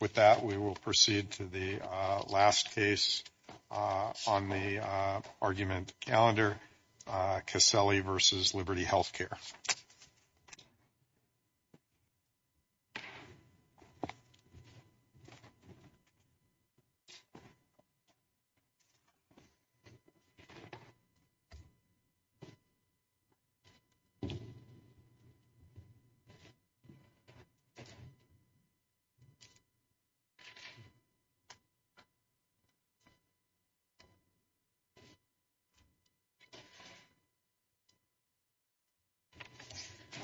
With that, we will proceed to the last case on the argument calendar, Caseli v. Liberty Healthcare.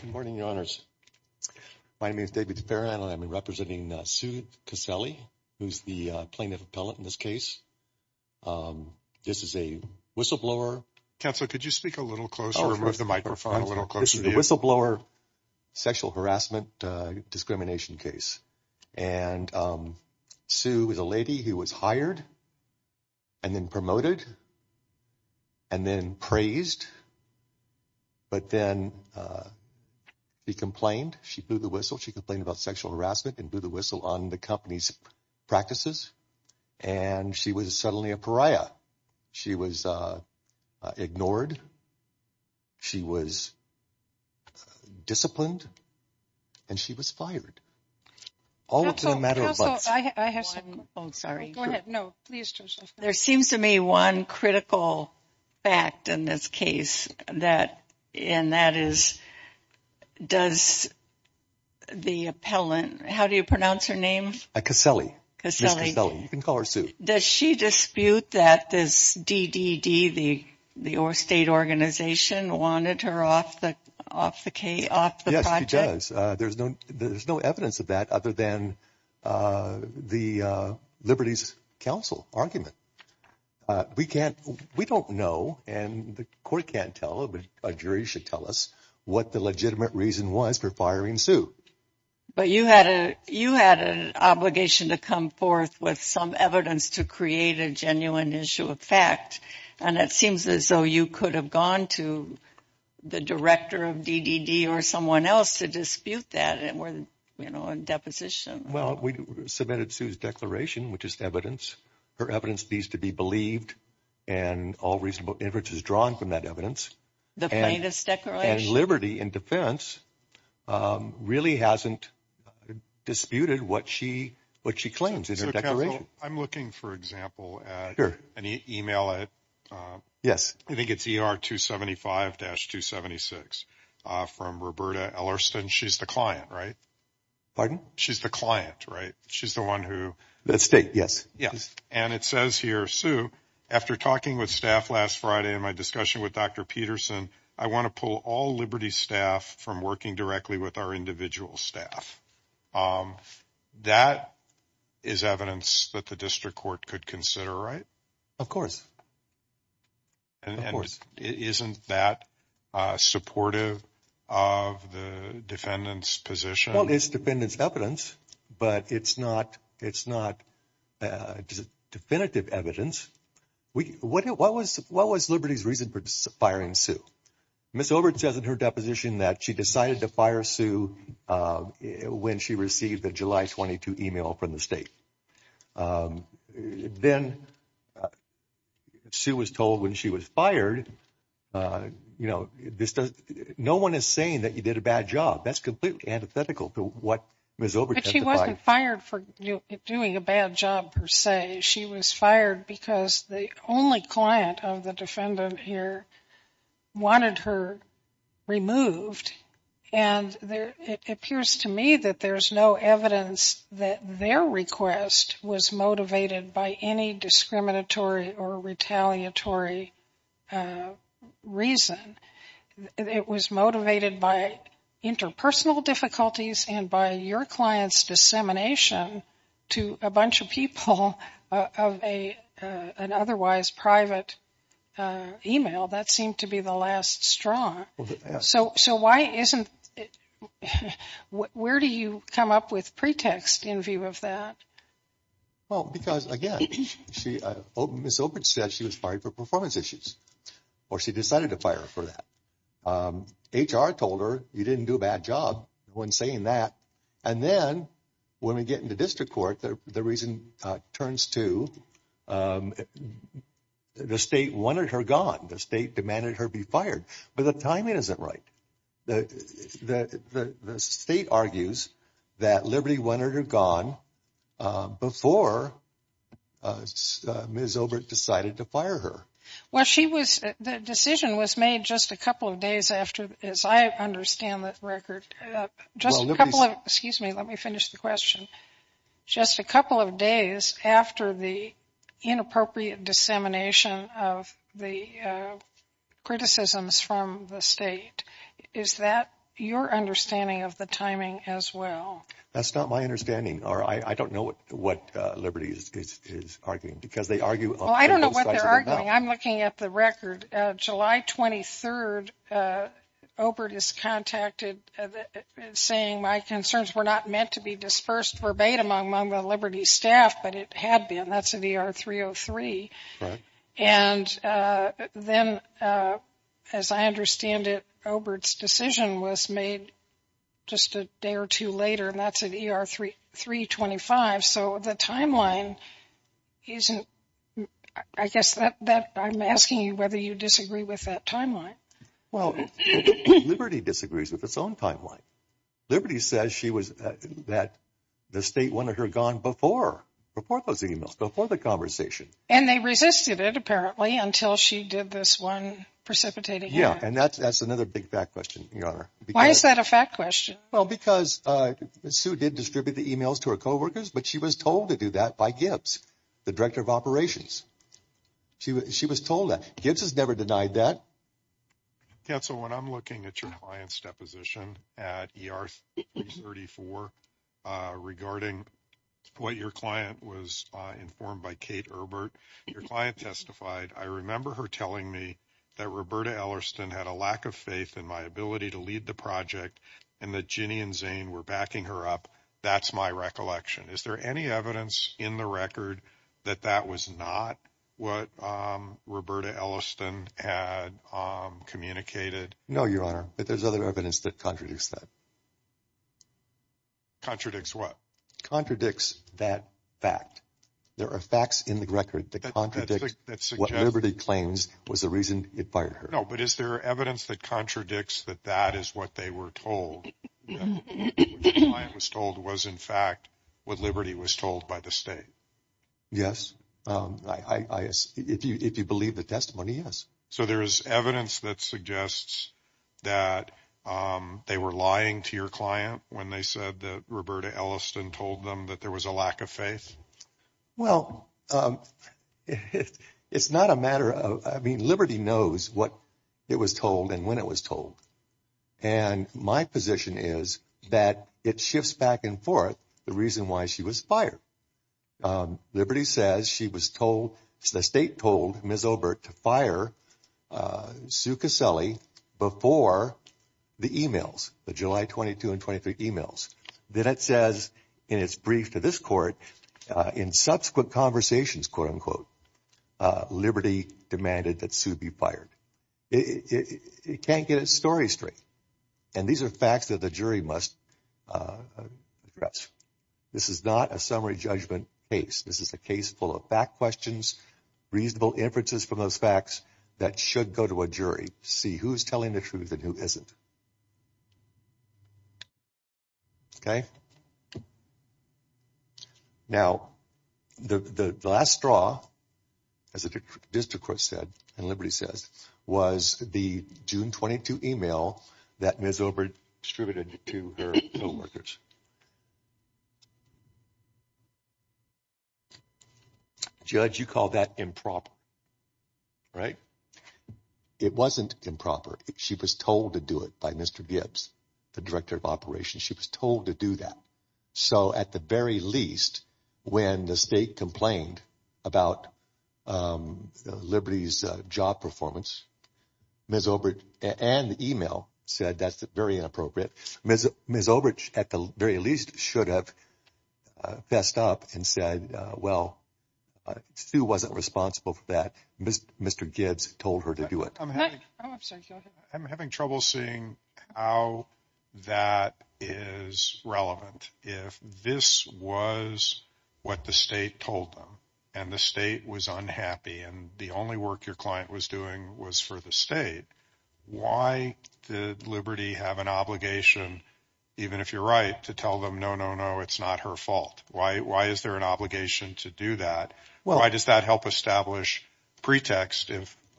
Good morning, Your Honors. My name is David Farahan, and I'm representing Sue Caseli, who's the plaintiff appellate in this case. This is a whistleblower. Counselor, could you speak a little closer with the microphone a little closer to the whistleblower sexual harassment discrimination case? And Sue is a lady who was hired and then promoted and then praised. But then she complained. She blew the whistle. She complained about sexual harassment and blew the whistle on the company's practices. And she was suddenly a pariah. She was ignored. She was disciplined and she was fired. There seems to me one critical fact in this case, and that is, does the appellant, how do you pronounce her name? Caseli. Caseli. You can call her Sue. Does she dispute that this DDD, the state organization, wanted her off the project? She does. There's no evidence of that other than the Liberty's counsel argument. We don't know, and the court can't tell, but a jury should tell us what the legitimate reason was for firing Sue. But you had an obligation to come forth with some evidence to create a genuine issue of fact. And it seems as though you could have gone to the director of DDD or someone else to dispute that and were, you know, in deposition. Well, we submitted Sue's declaration, which is evidence. Her evidence needs to be believed and all reasonable evidence is drawn from that evidence. The plaintiff's declaration. And Liberty, in defense, really hasn't disputed what she claims in her declaration. I'm looking, for example, at an e-mail. Yes. I think it's ER275-276 from Roberta Ellerston. She's the client, right? Pardon? She's the client, right? She's the one who. The state, yes. And it says here, Sue, after talking with staff last Friday in my discussion with Dr. Peterson, I want to pull all Liberty staff from working directly with our individual staff. That is evidence that the district court could consider, right? Of course. And isn't that supportive of the defendant's position? Well, it's defendant's evidence, but it's not definitive evidence. What was Liberty's reason for firing Sue? Ms. Obert says in her deposition that she decided to fire Sue when she received a July 22 e-mail from the state. Then Sue was told when she was fired, you know, no one is saying that you did a bad job. That's completely antithetical to what Ms. Obert testified. But she wasn't fired for doing a bad job per se. She was fired because the only client of the defendant here wanted her removed. And it appears to me that there's no evidence that their request was motivated by any discriminatory or retaliatory reason. It was motivated by interpersonal difficulties and by your client's dissemination to a bunch of people of an otherwise private e-mail. That seemed to be the last straw. So why isn't – where do you come up with pretext in view of that? Well, because, again, Ms. Obert said she was fired for performance issues, or she decided to fire her for that. HR told her you didn't do a bad job when saying that. And then when we get into district court, the reason turns to the state wanted her gone. The state demanded her be fired. But the timing isn't right. The state argues that Liberty wanted her gone before Ms. Obert decided to fire her. Well, she was – the decision was made just a couple of days after – as I understand the record. Just a couple of – excuse me, let me finish the question. Just a couple of days after the inappropriate dissemination of the criticisms from the state. Is that your understanding of the timing as well? That's not my understanding, or I don't know what Liberty is arguing, because they argue – Well, I don't know what they're arguing. I'm looking at the record. July 23rd, Obert is contacted saying my concerns were not meant to be dispersed verbatim among the Liberty staff, but it had been. That's at ER 303. Right. And then, as I understand it, Obert's decision was made just a day or two later, and that's at ER 325. So the timeline isn't – I guess that – I'm asking you whether you disagree with that timeline. Well, Liberty disagrees with its own timeline. Liberty says she was – that the state wanted her gone before those emails, before the conversation. And they resisted it, apparently, until she did this one precipitating act. Yeah, and that's another big fact question, Your Honor. Why is that a fact question? Well, because Sue did distribute the emails to her coworkers, but she was told to do that by Gibbs, the director of operations. She was told that. Gibbs has never denied that. Yeah, so when I'm looking at your client's deposition at ER 334 regarding what your client was informed by Kate Obert, your client testified, I remember her telling me that Roberta Ellerston had a lack of faith in my ability to lead the project and that Ginny and Zane were backing her up. That's my recollection. Is there any evidence in the record that that was not what Roberta Ellerston had communicated? No, Your Honor, but there's other evidence that contradicts that. Contradicts what? Contradicts that fact. There are facts in the record that contradict what Liberty claims was the reason it fired her. No, but is there evidence that contradicts that that is what they were told, that what your client was told was, in fact, what Liberty was told by the state? Yes. If you believe the testimony, yes. So there is evidence that suggests that they were lying to your client when they said that Roberta Ellerston told them that there was a lack of faith? Well, it's not a matter of – I mean, Liberty knows what it was told and when it was told. And my position is that it shifts back and forth the reason why she was fired. Liberty says she was told – the state told Ms. Obert to fire Sue Caselli before the e-mails, the July 22 and 23 e-mails. Then it says in its brief to this court, in subsequent conversations, quote, unquote, Liberty demanded that Sue be fired. It can't get its story straight. And these are facts that the jury must address. This is not a summary judgment case. This is a case full of fact questions, reasonable inferences from those facts that should go to a jury to see who is telling the truth and who isn't. Okay? Now, the last straw, as the district court said and Liberty says, was the June 22 e-mail that Ms. Obert distributed to her co-workers. Judge, you call that improper, right? It wasn't improper. She was told to do it by Mr. Gibbs, the director of operations. She was told to do that. So at the very least, when the state complained about Liberty's job performance, Ms. Obert and the e-mail said that's very inappropriate. Ms. Obert at the very least should have fessed up and said, well, Sue wasn't responsible for that. Mr. Gibbs told her to do it. I'm having trouble seeing how that is relevant. If this was what the state told them and the state was unhappy and the only work your client was doing was for the state, why did Liberty have an obligation, even if you're right, to tell them no, no, no, it's not her fault? Why is there an obligation to do that? Why does that help establish pretext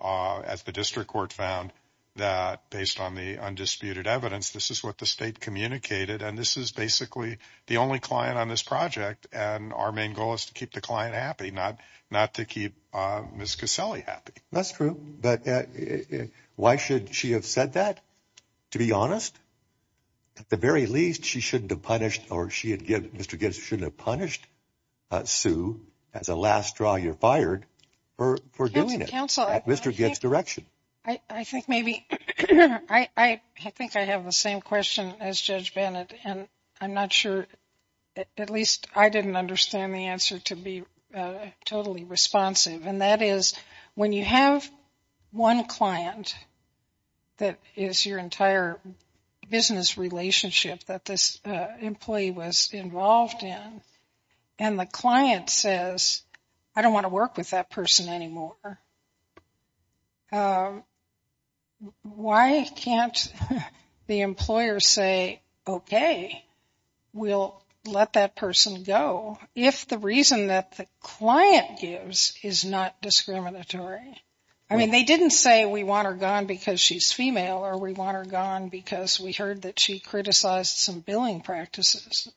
as the district court found that based on the undisputed evidence, this is what the state communicated and this is basically the only client on this project and our main goal is to keep the client happy, not to keep Ms. Caselli happy. That's true. But why should she have said that, to be honest? At the very least, she shouldn't have punished or Mr. Gibbs shouldn't have punished Sue as a last straw you're fired for doing it. At Mr. Gibbs' direction. I think maybe I think I have the same question as Judge Bennett, and I'm not sure. At least I didn't understand the answer to be totally responsive. When you have one client, that is your entire business relationship that this employee was involved in, and the client says, I don't want to work with that person anymore. Why can't the employer say, okay, we'll let that person go. If the reason that the client gives is not discriminatory. I mean, they didn't say we want her gone because she's female or we want her gone because we heard that she criticized some billing practices.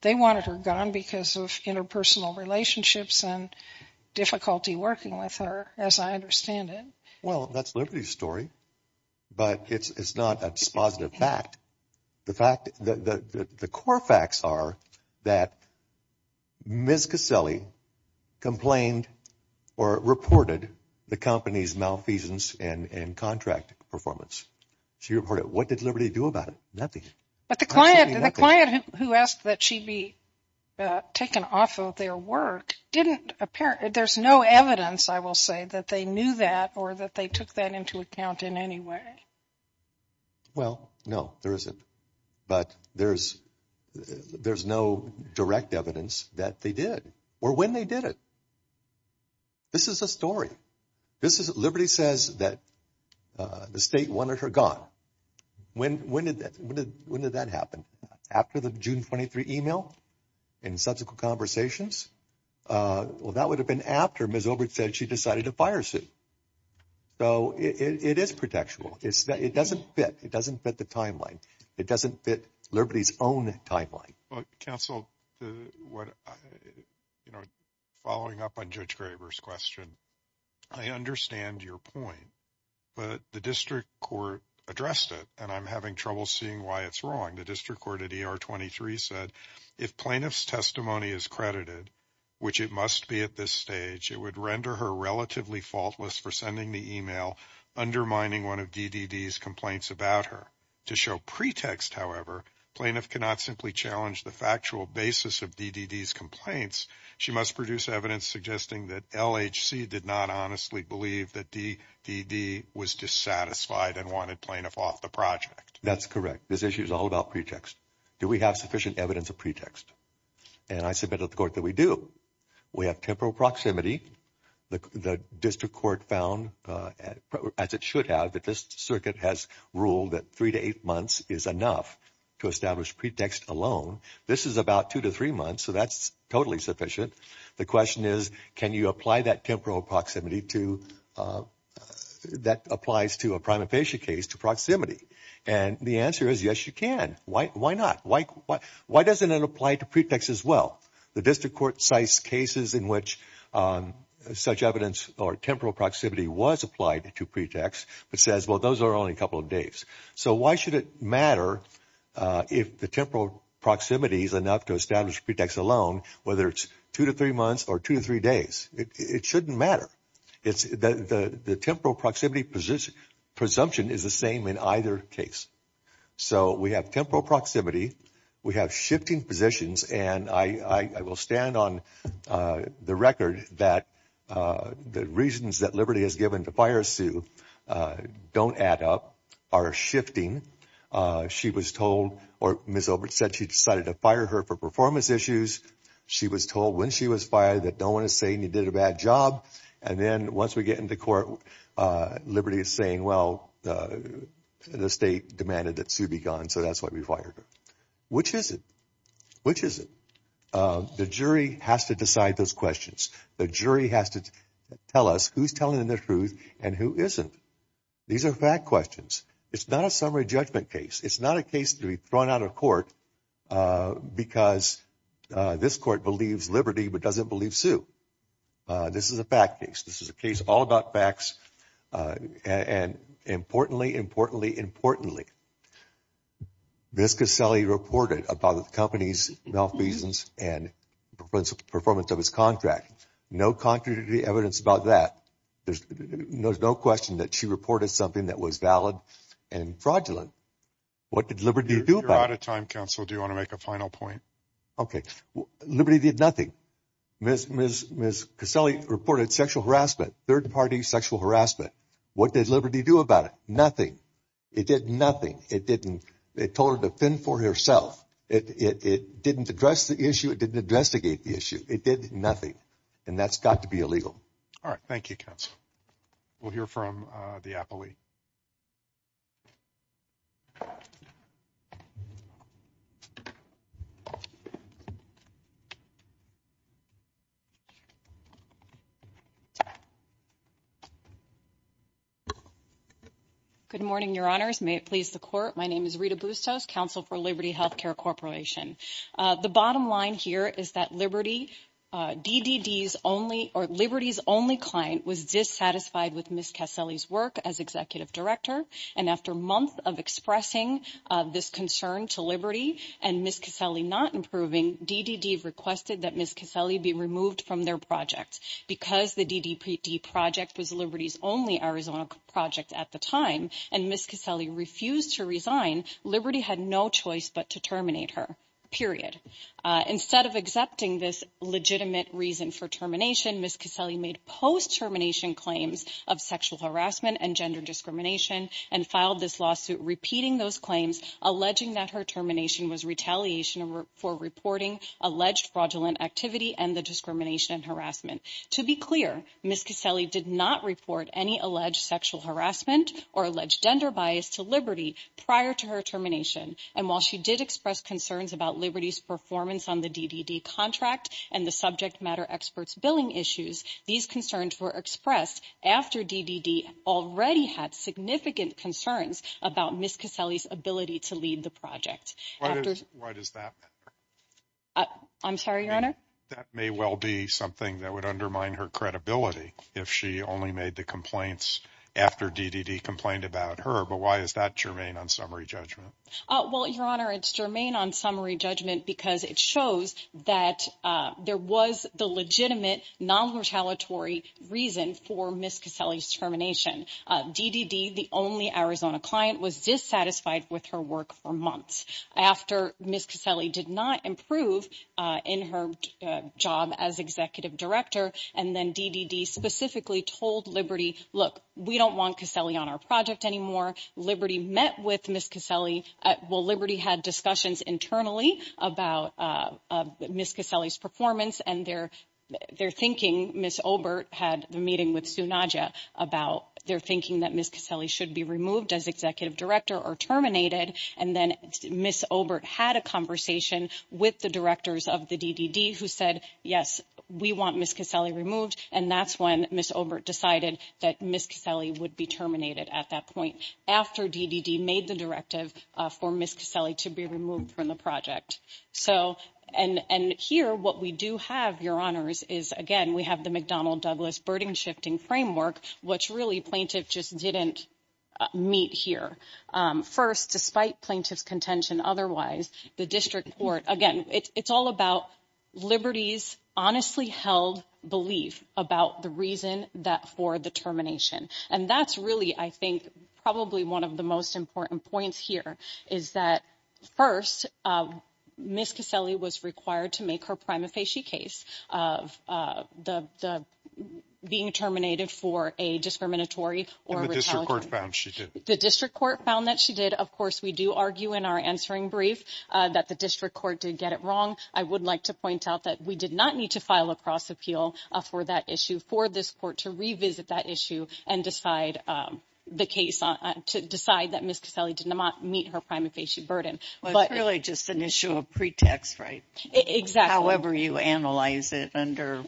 They wanted her gone because of interpersonal relationships and difficulty working with her, as I understand it. Well, that's Liberty's story. But it's not a dispositive fact. The fact that the core facts are that Ms. Caselli complained or reported the company's malfeasance and contract performance. She reported it. What did Liberty do about it? But the client who asked that she be taken off of their work didn't apparently there's no evidence, I will say, that they knew that or that they took that into account in any way. Well, no, there isn't. But there's no direct evidence that they did or when they did it. This is a story. Liberty says that the state wanted her gone. When did that happen? After the June 23 email? In subsequent conversations? Well, that would have been after Ms. Obert said she decided to fire Sue. So it is protectable. It doesn't fit. It doesn't fit the timeline. It doesn't fit Liberty's own timeline. Counsel, following up on Judge Graber's question, I understand your point. But the district court addressed it, and I'm having trouble seeing why it's wrong. The district court at ER 23 said if plaintiff's testimony is credited, which it must be at this stage, it would render her relatively faultless for sending the email, undermining one of DDD's complaints about her. To show pretext, however, plaintiff cannot simply challenge the factual basis of DDD's complaints. She must produce evidence suggesting that LHC did not honestly believe that DDD was dissatisfied and wanted plaintiff off the project. That's correct. This issue is all about pretext. Do we have sufficient evidence of pretext? And I submitted to the court that we do. We have temporal proximity. The district court found, as it should have, that this circuit has ruled that three to eight months is enough to establish pretext alone. This is about two to three months, so that's totally sufficient. The question is, can you apply that temporal proximity to – that applies to a prime and patient case to proximity? And the answer is, yes, you can. Why not? Why doesn't it apply to pretext as well? The district court cites cases in which such evidence or temporal proximity was applied to pretext, but says, well, those are only a couple of days. So why should it matter if the temporal proximity is enough to establish pretext alone, whether it's two to three months or two to three days? It shouldn't matter. The temporal proximity presumption is the same in either case. So we have temporal proximity. We have shifting positions. And I will stand on the record that the reasons that Liberty has given to fire Sue don't add up are shifting. She was told – or Ms. Obert said she decided to fire her for performance issues. She was told when she was fired that no one is saying you did a bad job. And then once we get into court, Liberty is saying, well, the state demanded that Sue be gone, so that's why we fired her. Which is it? Which is it? The jury has to decide those questions. The jury has to tell us who's telling the truth and who isn't. These are fact questions. It's not a summary judgment case. It's not a case to be thrown out of court because this court believes Liberty but doesn't believe Sue. This is a fact case. This is a case all about facts. And importantly, importantly, importantly, Ms. Caselli reported about the company's malfeasance and performance of its contract. No contradictory evidence about that. There's no question that she reported something that was valid and fraudulent. What did Liberty do about it? You're out of time, counsel. Do you want to make a final point? Okay. Liberty did nothing. Ms. Caselli reported sexual harassment, third-party sexual harassment. What did Liberty do about it? Nothing. It did nothing. It didn't – it told her to fend for herself. It didn't address the issue. It didn't investigate the issue. It did nothing. And that's got to be illegal. All right. Thank you, counsel. We'll hear from the appellee. Good morning, Your Honors. May it please the Court. My name is Rita Bustos, counsel for Liberty Healthcare Corporation. The bottom line here is that Liberty – DDD's only – or Liberty's only client was dissatisfied with Ms. Caselli's work as executive director. And after months of expressing this concern to Liberty and Ms. Caselli not approving, DDD requested that Ms. Caselli be removed from their project. Because the DDD project was Liberty's only Arizona project at the time, and Ms. Caselli refused to resign, Liberty had no choice but to terminate her, period. Instead of accepting this legitimate reason for termination, Ms. Caselli made post-termination claims of sexual harassment and gender discrimination and filed this lawsuit repeating those claims, alleging that her termination was retaliation for reporting alleged fraudulent activity and the discrimination and harassment. To be clear, Ms. Caselli did not report any alleged sexual harassment or alleged gender bias to Liberty prior to her termination. And while she did express concerns about Liberty's performance on the DDD contract and the subject matter experts' billing issues, these concerns were expressed after DDD already had significant concerns about Ms. Caselli's ability to lead the project. Why does that matter? I'm sorry, Your Honor? That may well be something that would undermine her credibility if she only made the complaints after DDD complained about her. But why is that germane on summary judgment? Well, Your Honor, it's germane on summary judgment because it shows that there was the legitimate non-retaliatory reason for Ms. Caselli's termination. DDD, the only Arizona client, was dissatisfied with her work for months after Ms. Caselli did not improve in her job as executive director. And then DDD specifically told Liberty, look, we don't want Caselli on our project anymore. Liberty met with Ms. Caselli. Well, Liberty had discussions internally about Ms. Caselli's performance. And they're thinking, Ms. Obert had the meeting with Sue Nadja about their thinking that Ms. Caselli should be removed as executive director or terminated. And then Ms. Obert had a conversation with the directors of the DDD who said, yes, we want Ms. Caselli removed. And that's when Ms. Obert decided that Ms. Caselli would be terminated at that point after DDD made the directive for Ms. Caselli to be removed from the project. So and here what we do have, Your Honors, is, again, we have the McDonnell Douglas burden shifting framework, which really plaintiff just didn't meet here. First, despite plaintiff's contention otherwise, the district court, again, it's all about Liberty's honestly held belief about the reason that for the termination. And that's really, I think, probably one of the most important points here is that first, Ms. Caselli was required to make her prima facie case of the being terminated for a discriminatory or retaliatory. The district court found that she did. Of course, we do argue in our answering brief that the district court did get it wrong. I would like to point out that we did not need to file a cross appeal for that issue for this court to revisit that issue and decide the case to decide that Ms. Caselli did not meet her prima facie burden. But really just an issue of pretext, right? Exactly. However, you analyze it under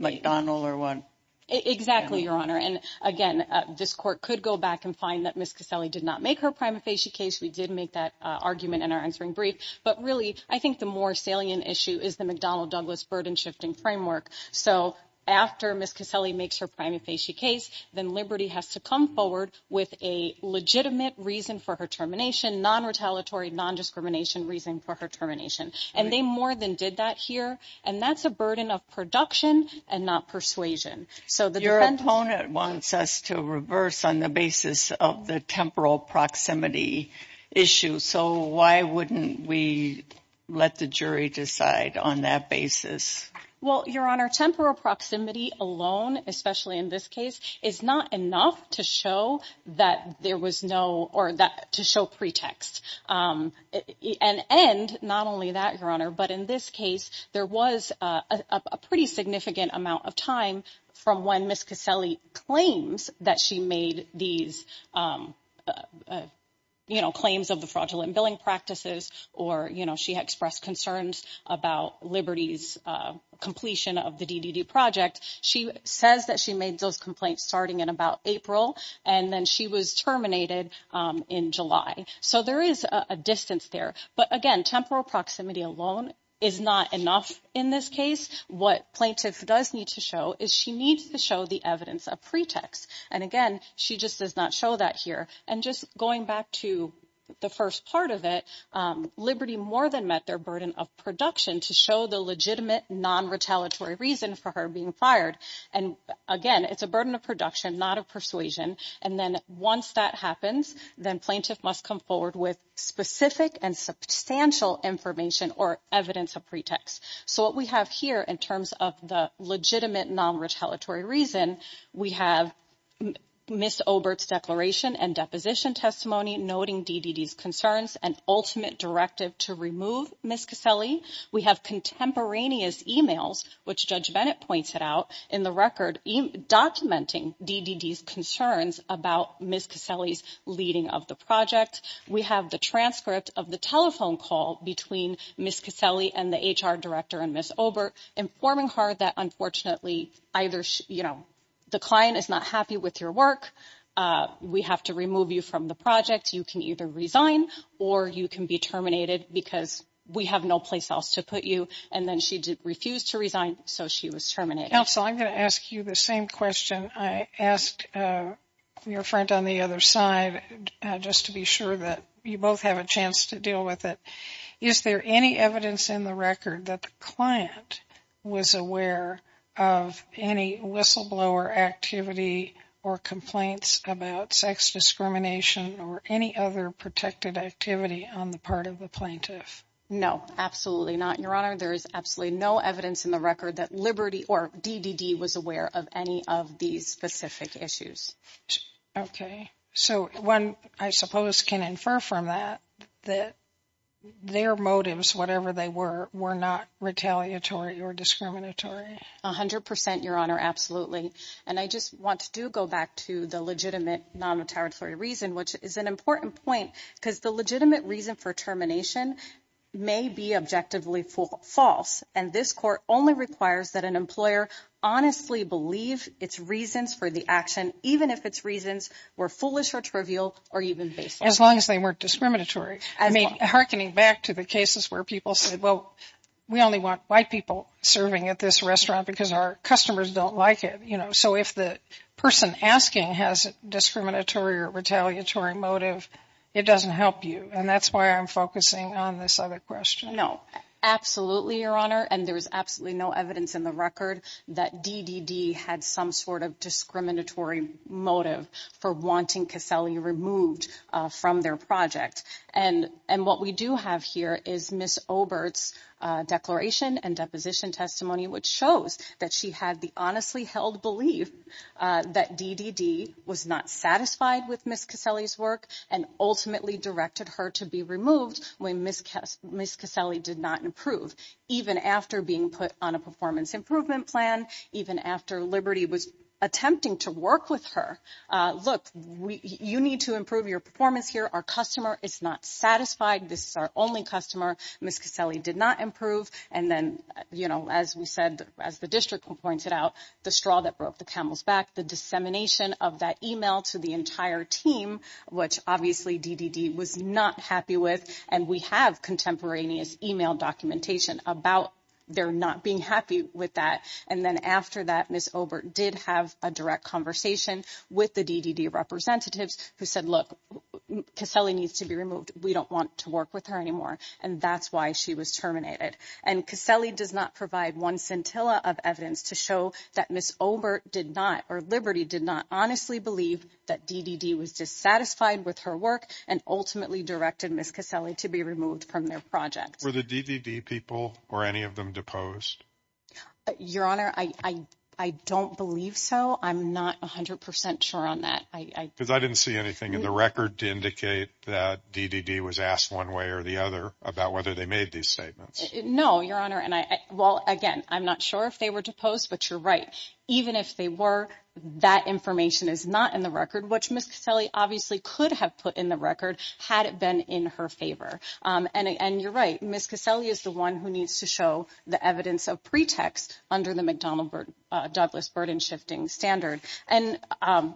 McDonnell or what? Exactly, Your Honor. And again, this court could go back and find that Ms. Caselli did not make her prima facie case. We did make that argument in our answering brief. But really, I think the more salient issue is the McDonnell Douglas burden shifting framework. So after Ms. Caselli makes her prima facie case, then Liberty has to come forward with a legitimate reason for her termination, non retaliatory, non discrimination reason for her termination. And they more than did that here. And that's a burden of production and not persuasion. So your opponent wants us to reverse on the basis of the temporal proximity issue. So why wouldn't we let the jury decide on that basis? Well, Your Honor, temporal proximity alone, especially in this case, is not enough to show that there was no or that to show pretext. And and not only that, Your Honor, but in this case, there was a pretty significant amount of time from when Ms. Caselli claims that she made these claims of the fraudulent billing practices. Or, you know, she expressed concerns about Liberty's completion of the DDD project. She says that she made those complaints starting in about April and then she was terminated in July. So there is a distance there. But again, temporal proximity alone is not enough. In this case, what plaintiff does need to show is she needs to show the evidence of pretext. And again, she just does not show that here. And just going back to the first part of it, Liberty more than met their burden of production to show the legitimate, non retaliatory reason for her being fired. And again, it's a burden of production, not a persuasion. And then once that happens, then plaintiff must come forward with specific and substantial information or evidence of pretext. So what we have here in terms of the legitimate, non retaliatory reason, we have Ms. Obert's declaration and deposition testimony noting DDD's concerns and ultimate directive to remove Ms. Caselli. We have contemporaneous emails, which Judge Bennett pointed out in the record documenting DDD's concerns about Ms. Caselli's leading of the project. We have the transcript of the telephone call between Ms. Caselli and the HR director and Ms. Obert informing her that unfortunately, either, you know, the client is not happy with your work. We have to remove you from the project. You can either resign or you can be terminated because we have no place else to put you. And then she refused to resign. So she was terminated. Counsel, I'm going to ask you the same question I asked your friend on the other side, just to be sure that you both have a chance to deal with it. Is there any evidence in the record that the client was aware of any whistleblower activity or complaints about sex discrimination or any other protected activity on the part of the plaintiff? No, absolutely not. Your Honor, there is absolutely no evidence in the record that Liberty or DDD was aware of any of these specific issues. Okay. So one, I suppose, can infer from that, that their motives, whatever they were, were not retaliatory or discriminatory. A hundred percent, Your Honor. Absolutely. And I just want to go back to the legitimate non-retaliatory reason, which is an important point, because the legitimate reason for termination may be objectively false. And this court only requires that an employer honestly believe its reasons for the action, even if its reasons were foolish or trivial or even baseless. As long as they weren't discriminatory. I mean, hearkening back to the cases where people said, well, we only want white people serving at this restaurant because our customers don't like it. So if the person asking has a discriminatory or retaliatory motive, it doesn't help you. And that's why I'm focusing on this other question. No, absolutely, Your Honor. And there is absolutely no evidence in the record that DDD had some sort of discriminatory motive for wanting Caselli removed from their project. And what we do have here is Miss Obert's declaration and deposition testimony, which shows that she had the honestly held belief that DDD was not satisfied with Miss Caselli's work and ultimately directed her to be removed. When Miss Caselli did not improve, even after being put on a performance improvement plan, even after Liberty was attempting to work with her. Look, you need to improve your performance here. Our customer is not satisfied. This is our only customer. Miss Caselli did not improve. And then, you know, as we said, as the district pointed out, the straw that broke the camel's back, the dissemination of that email to the entire team, which obviously DDD was not happy with. And we have contemporaneous email documentation about their not being happy with that. And then after that, Miss Obert did have a direct conversation with the DDD representatives who said, look, Caselli needs to be removed. We don't want to work with her anymore. And that's why she was terminated. And Caselli does not provide one scintilla of evidence to show that Miss Obert did not or Liberty did not honestly believe that DDD was dissatisfied with her work and ultimately directed Miss Caselli to be removed from their project. Were the DDD people or any of them deposed? Your Honor, I don't believe so. I'm not 100 percent sure on that. Because I didn't see anything in the record to indicate that DDD was asked one way or the other about whether they made these statements. No, Your Honor. And I. Well, again, I'm not sure if they were deposed, but you're right. Even if they were, that information is not in the record, which Miss Caselli obviously could have put in the record had it been in her favor. And you're right. Miss Caselli is the one who needs to show the evidence of pretext under the McDonnell Douglas burden shifting standard. And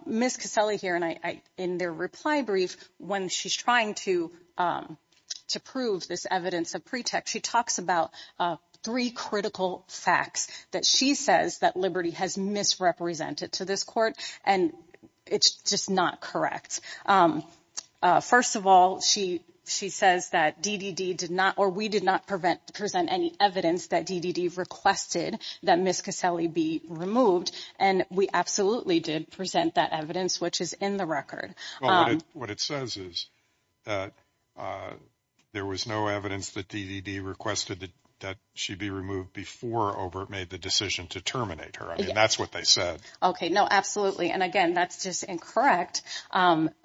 Miss Caselli here and I in their reply brief when she's trying to to prove this evidence of pretext, she talks about three critical facts that she says that Liberty has misrepresented to this court. And it's just not correct. First of all, she she says that DDD did not or we did not prevent present any evidence that DDD requested that Miss Caselli be removed. And we absolutely did present that evidence, which is in the record. What it says is that there was no evidence that DDD requested that she be removed before over it made the decision to terminate her. I mean, that's what they said. OK, no, absolutely. And again, that's just incorrect,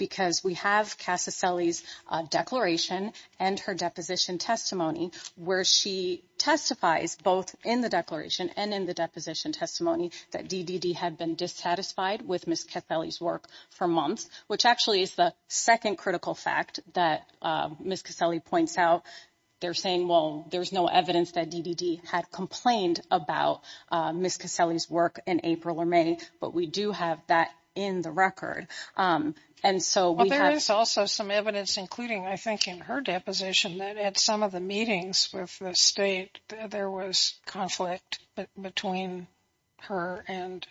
because we have Cassie's declaration and her deposition testimony where she testifies both in the declaration and in the deposition testimony that DDD had been dissatisfied with Miss Caselli's work for months, which actually is the second critical fact that Miss Caselli points out. They're saying, well, there's no evidence that DDD had complained about Miss Caselli's work in April or May. But we do have that in the record. And so there is also some evidence, including, I think, in her deposition that at some of the meetings with the state, there was conflict between her and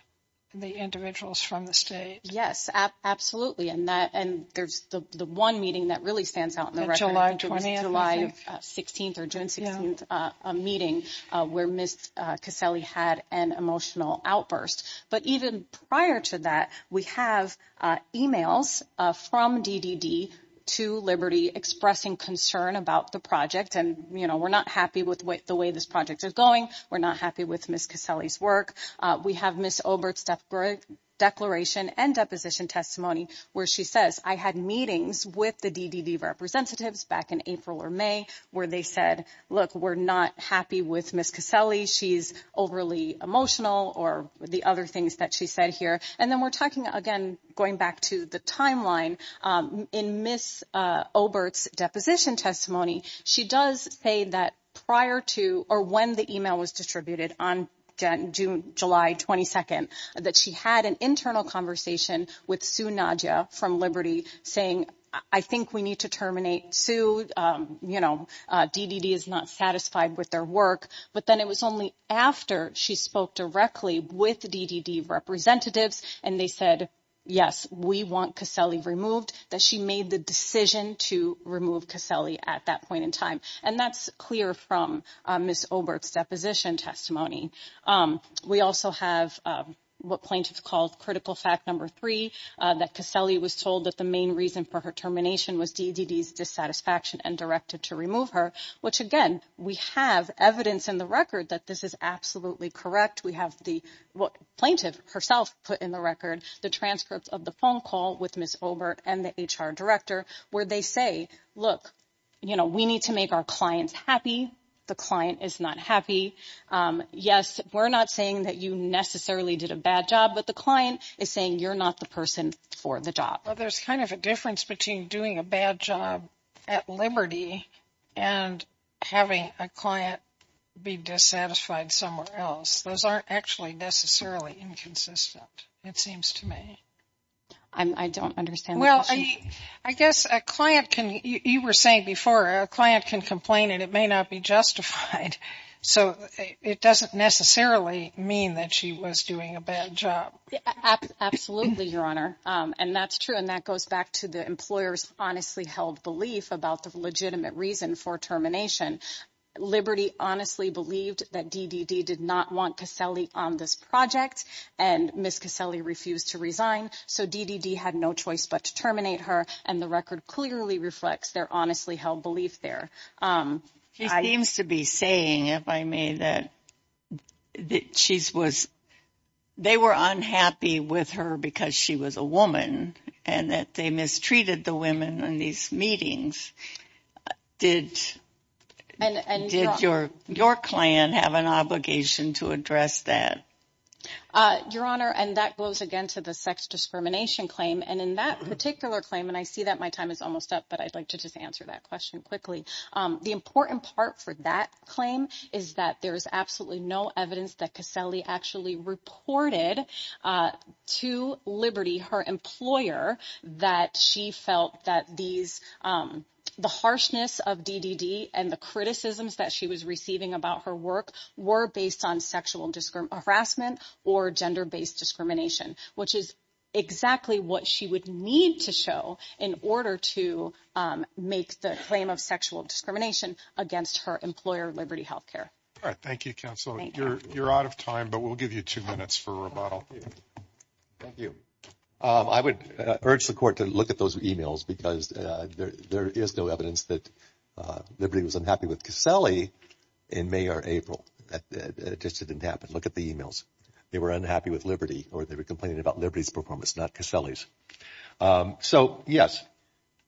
the individuals from the state. Yes, absolutely. And that and there's the one meeting that really stands out in the record, July 16th or June 16th meeting where Miss Caselli had an emotional outburst. But even prior to that, we have emails from DDD to Liberty expressing concern about the project. And, you know, we're not happy with the way this project is going. We're not happy with Miss Caselli's work. We have Miss Obert's declaration and deposition testimony where she says, I had meetings with the DDD representatives back in April or May where they said, look, we're not happy with Miss Caselli. She's overly emotional or the other things that she said here. And then we're talking again, going back to the timeline in Miss Obert's deposition testimony. She does say that prior to or when the email was distributed on June, July 22nd, that she had an internal conversation with Sue Nadja from Liberty saying, I think we need to terminate Sue. You know, DDD is not satisfied with their work. But then it was only after she spoke directly with the DDD representatives and they said, yes, we want Caselli removed, that she made the decision to remove Caselli at that point in time. And that's clear from Miss Obert's deposition testimony. We also have what plaintiffs called critical fact number three, that Caselli was told that the main reason for her termination was DDD's dissatisfaction and directed to remove her, which, again, we have evidence in the record that this is absolutely correct. We have the plaintiff herself put in the record the transcript of the phone call with Miss Obert and the HR director where they say, look, you know, we need to make our clients happy. The client is not happy. Yes, we're not saying that you necessarily did a bad job, but the client is saying you're not the person for the job. Well, there's kind of a difference between doing a bad job at Liberty and having a client be dissatisfied somewhere else. Those aren't actually necessarily inconsistent, it seems to me. I don't understand. Well, I guess a client can you were saying before a client can complain and it may not be justified. So it doesn't necessarily mean that she was doing a bad job. Absolutely, Your Honor. And that's true. And that goes back to the employers honestly held belief about the legitimate reason for termination. Liberty honestly believed that DDD did not want to sell on this project and Miss Caselli refused to resign. So DDD had no choice but to terminate her. And the record clearly reflects their honestly held belief there. She seems to be saying, if I may, that she's was they were unhappy with her because she was a woman and that they mistreated the women in these meetings. Did and did your your client have an obligation to address that? Your Honor, and that goes again to the sex discrimination claim. And in that particular claim, and I see that my time is almost up, but I'd like to just answer that question quickly. The important part for that claim is that there is absolutely no evidence that Caselli actually reported to Liberty, her employer, that she felt that these the harshness of DDD and the criticisms that she was receiving about her work were based on sexual harassment or gender based discrimination, which is exactly what she would need to show in order to make the claim of sexual discrimination against her employer, Liberty Health Care. All right. Thank you, counsel. You're out of time, but we'll give you two minutes for rebuttal. Thank you. I would urge the court to look at those emails because there is no evidence that Liberty was unhappy with Caselli in May or April. It just didn't happen. Look at the emails. They were unhappy with Liberty or they were complaining about Liberty's performance, not Caselli's. So, yes,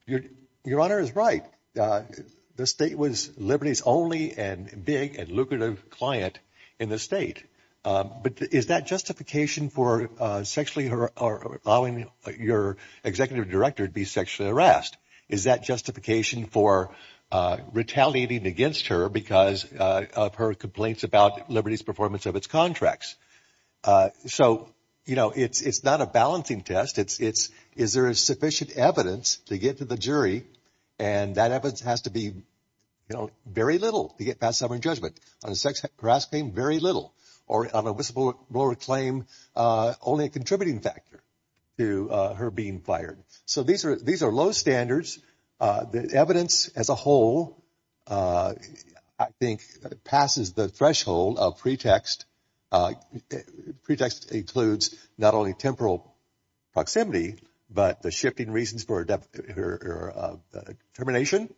your your honor is right. The state was Liberty's only and big and lucrative client in the state. But is that justification for sexually or allowing your executive director to be sexually harassed? Is that justification for retaliating against her because of her complaints about Liberty's performance of its contracts? So, you know, it's it's not a balancing test. It's it's. Is there sufficient evidence to get to the jury? And that evidence has to be, you know, very little to get past some judgment on a sex harass claim. Very little or on a whistleblower claim. Only a contributing factor to her being fired. So these are these are low standards. The evidence as a whole, I think, passes the threshold of pretext. Pretext includes not only temporal proximity, but the shifting reasons for her termination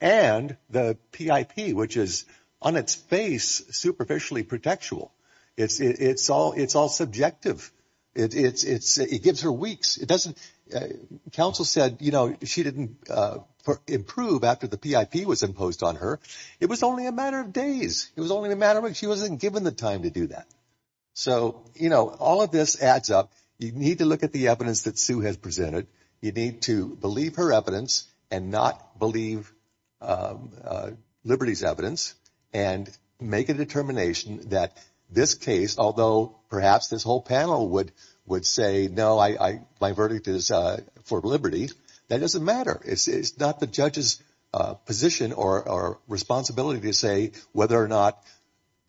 and the PIP, which is on its face superficially protectual. It's it's all it's all subjective. It's it's it gives her weeks. It doesn't. Counsel said, you know, she didn't improve after the PIP was imposed on her. It was only a matter of days. It was only a matter of she wasn't given the time to do that. So, you know, all of this adds up. You need to look at the evidence that Sue has presented. You need to believe her evidence and not believe Liberty's evidence and make a determination that this case, although perhaps this whole panel would would say, no, I my verdict is for Liberty. That doesn't matter. It's not the judge's position or responsibility to say whether or not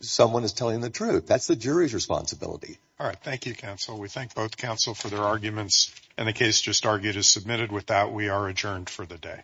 someone is telling the truth. That's the jury's responsibility. All right. Thank you, counsel. We thank both counsel for their arguments and the case just argued is submitted with that. We are adjourned for the day.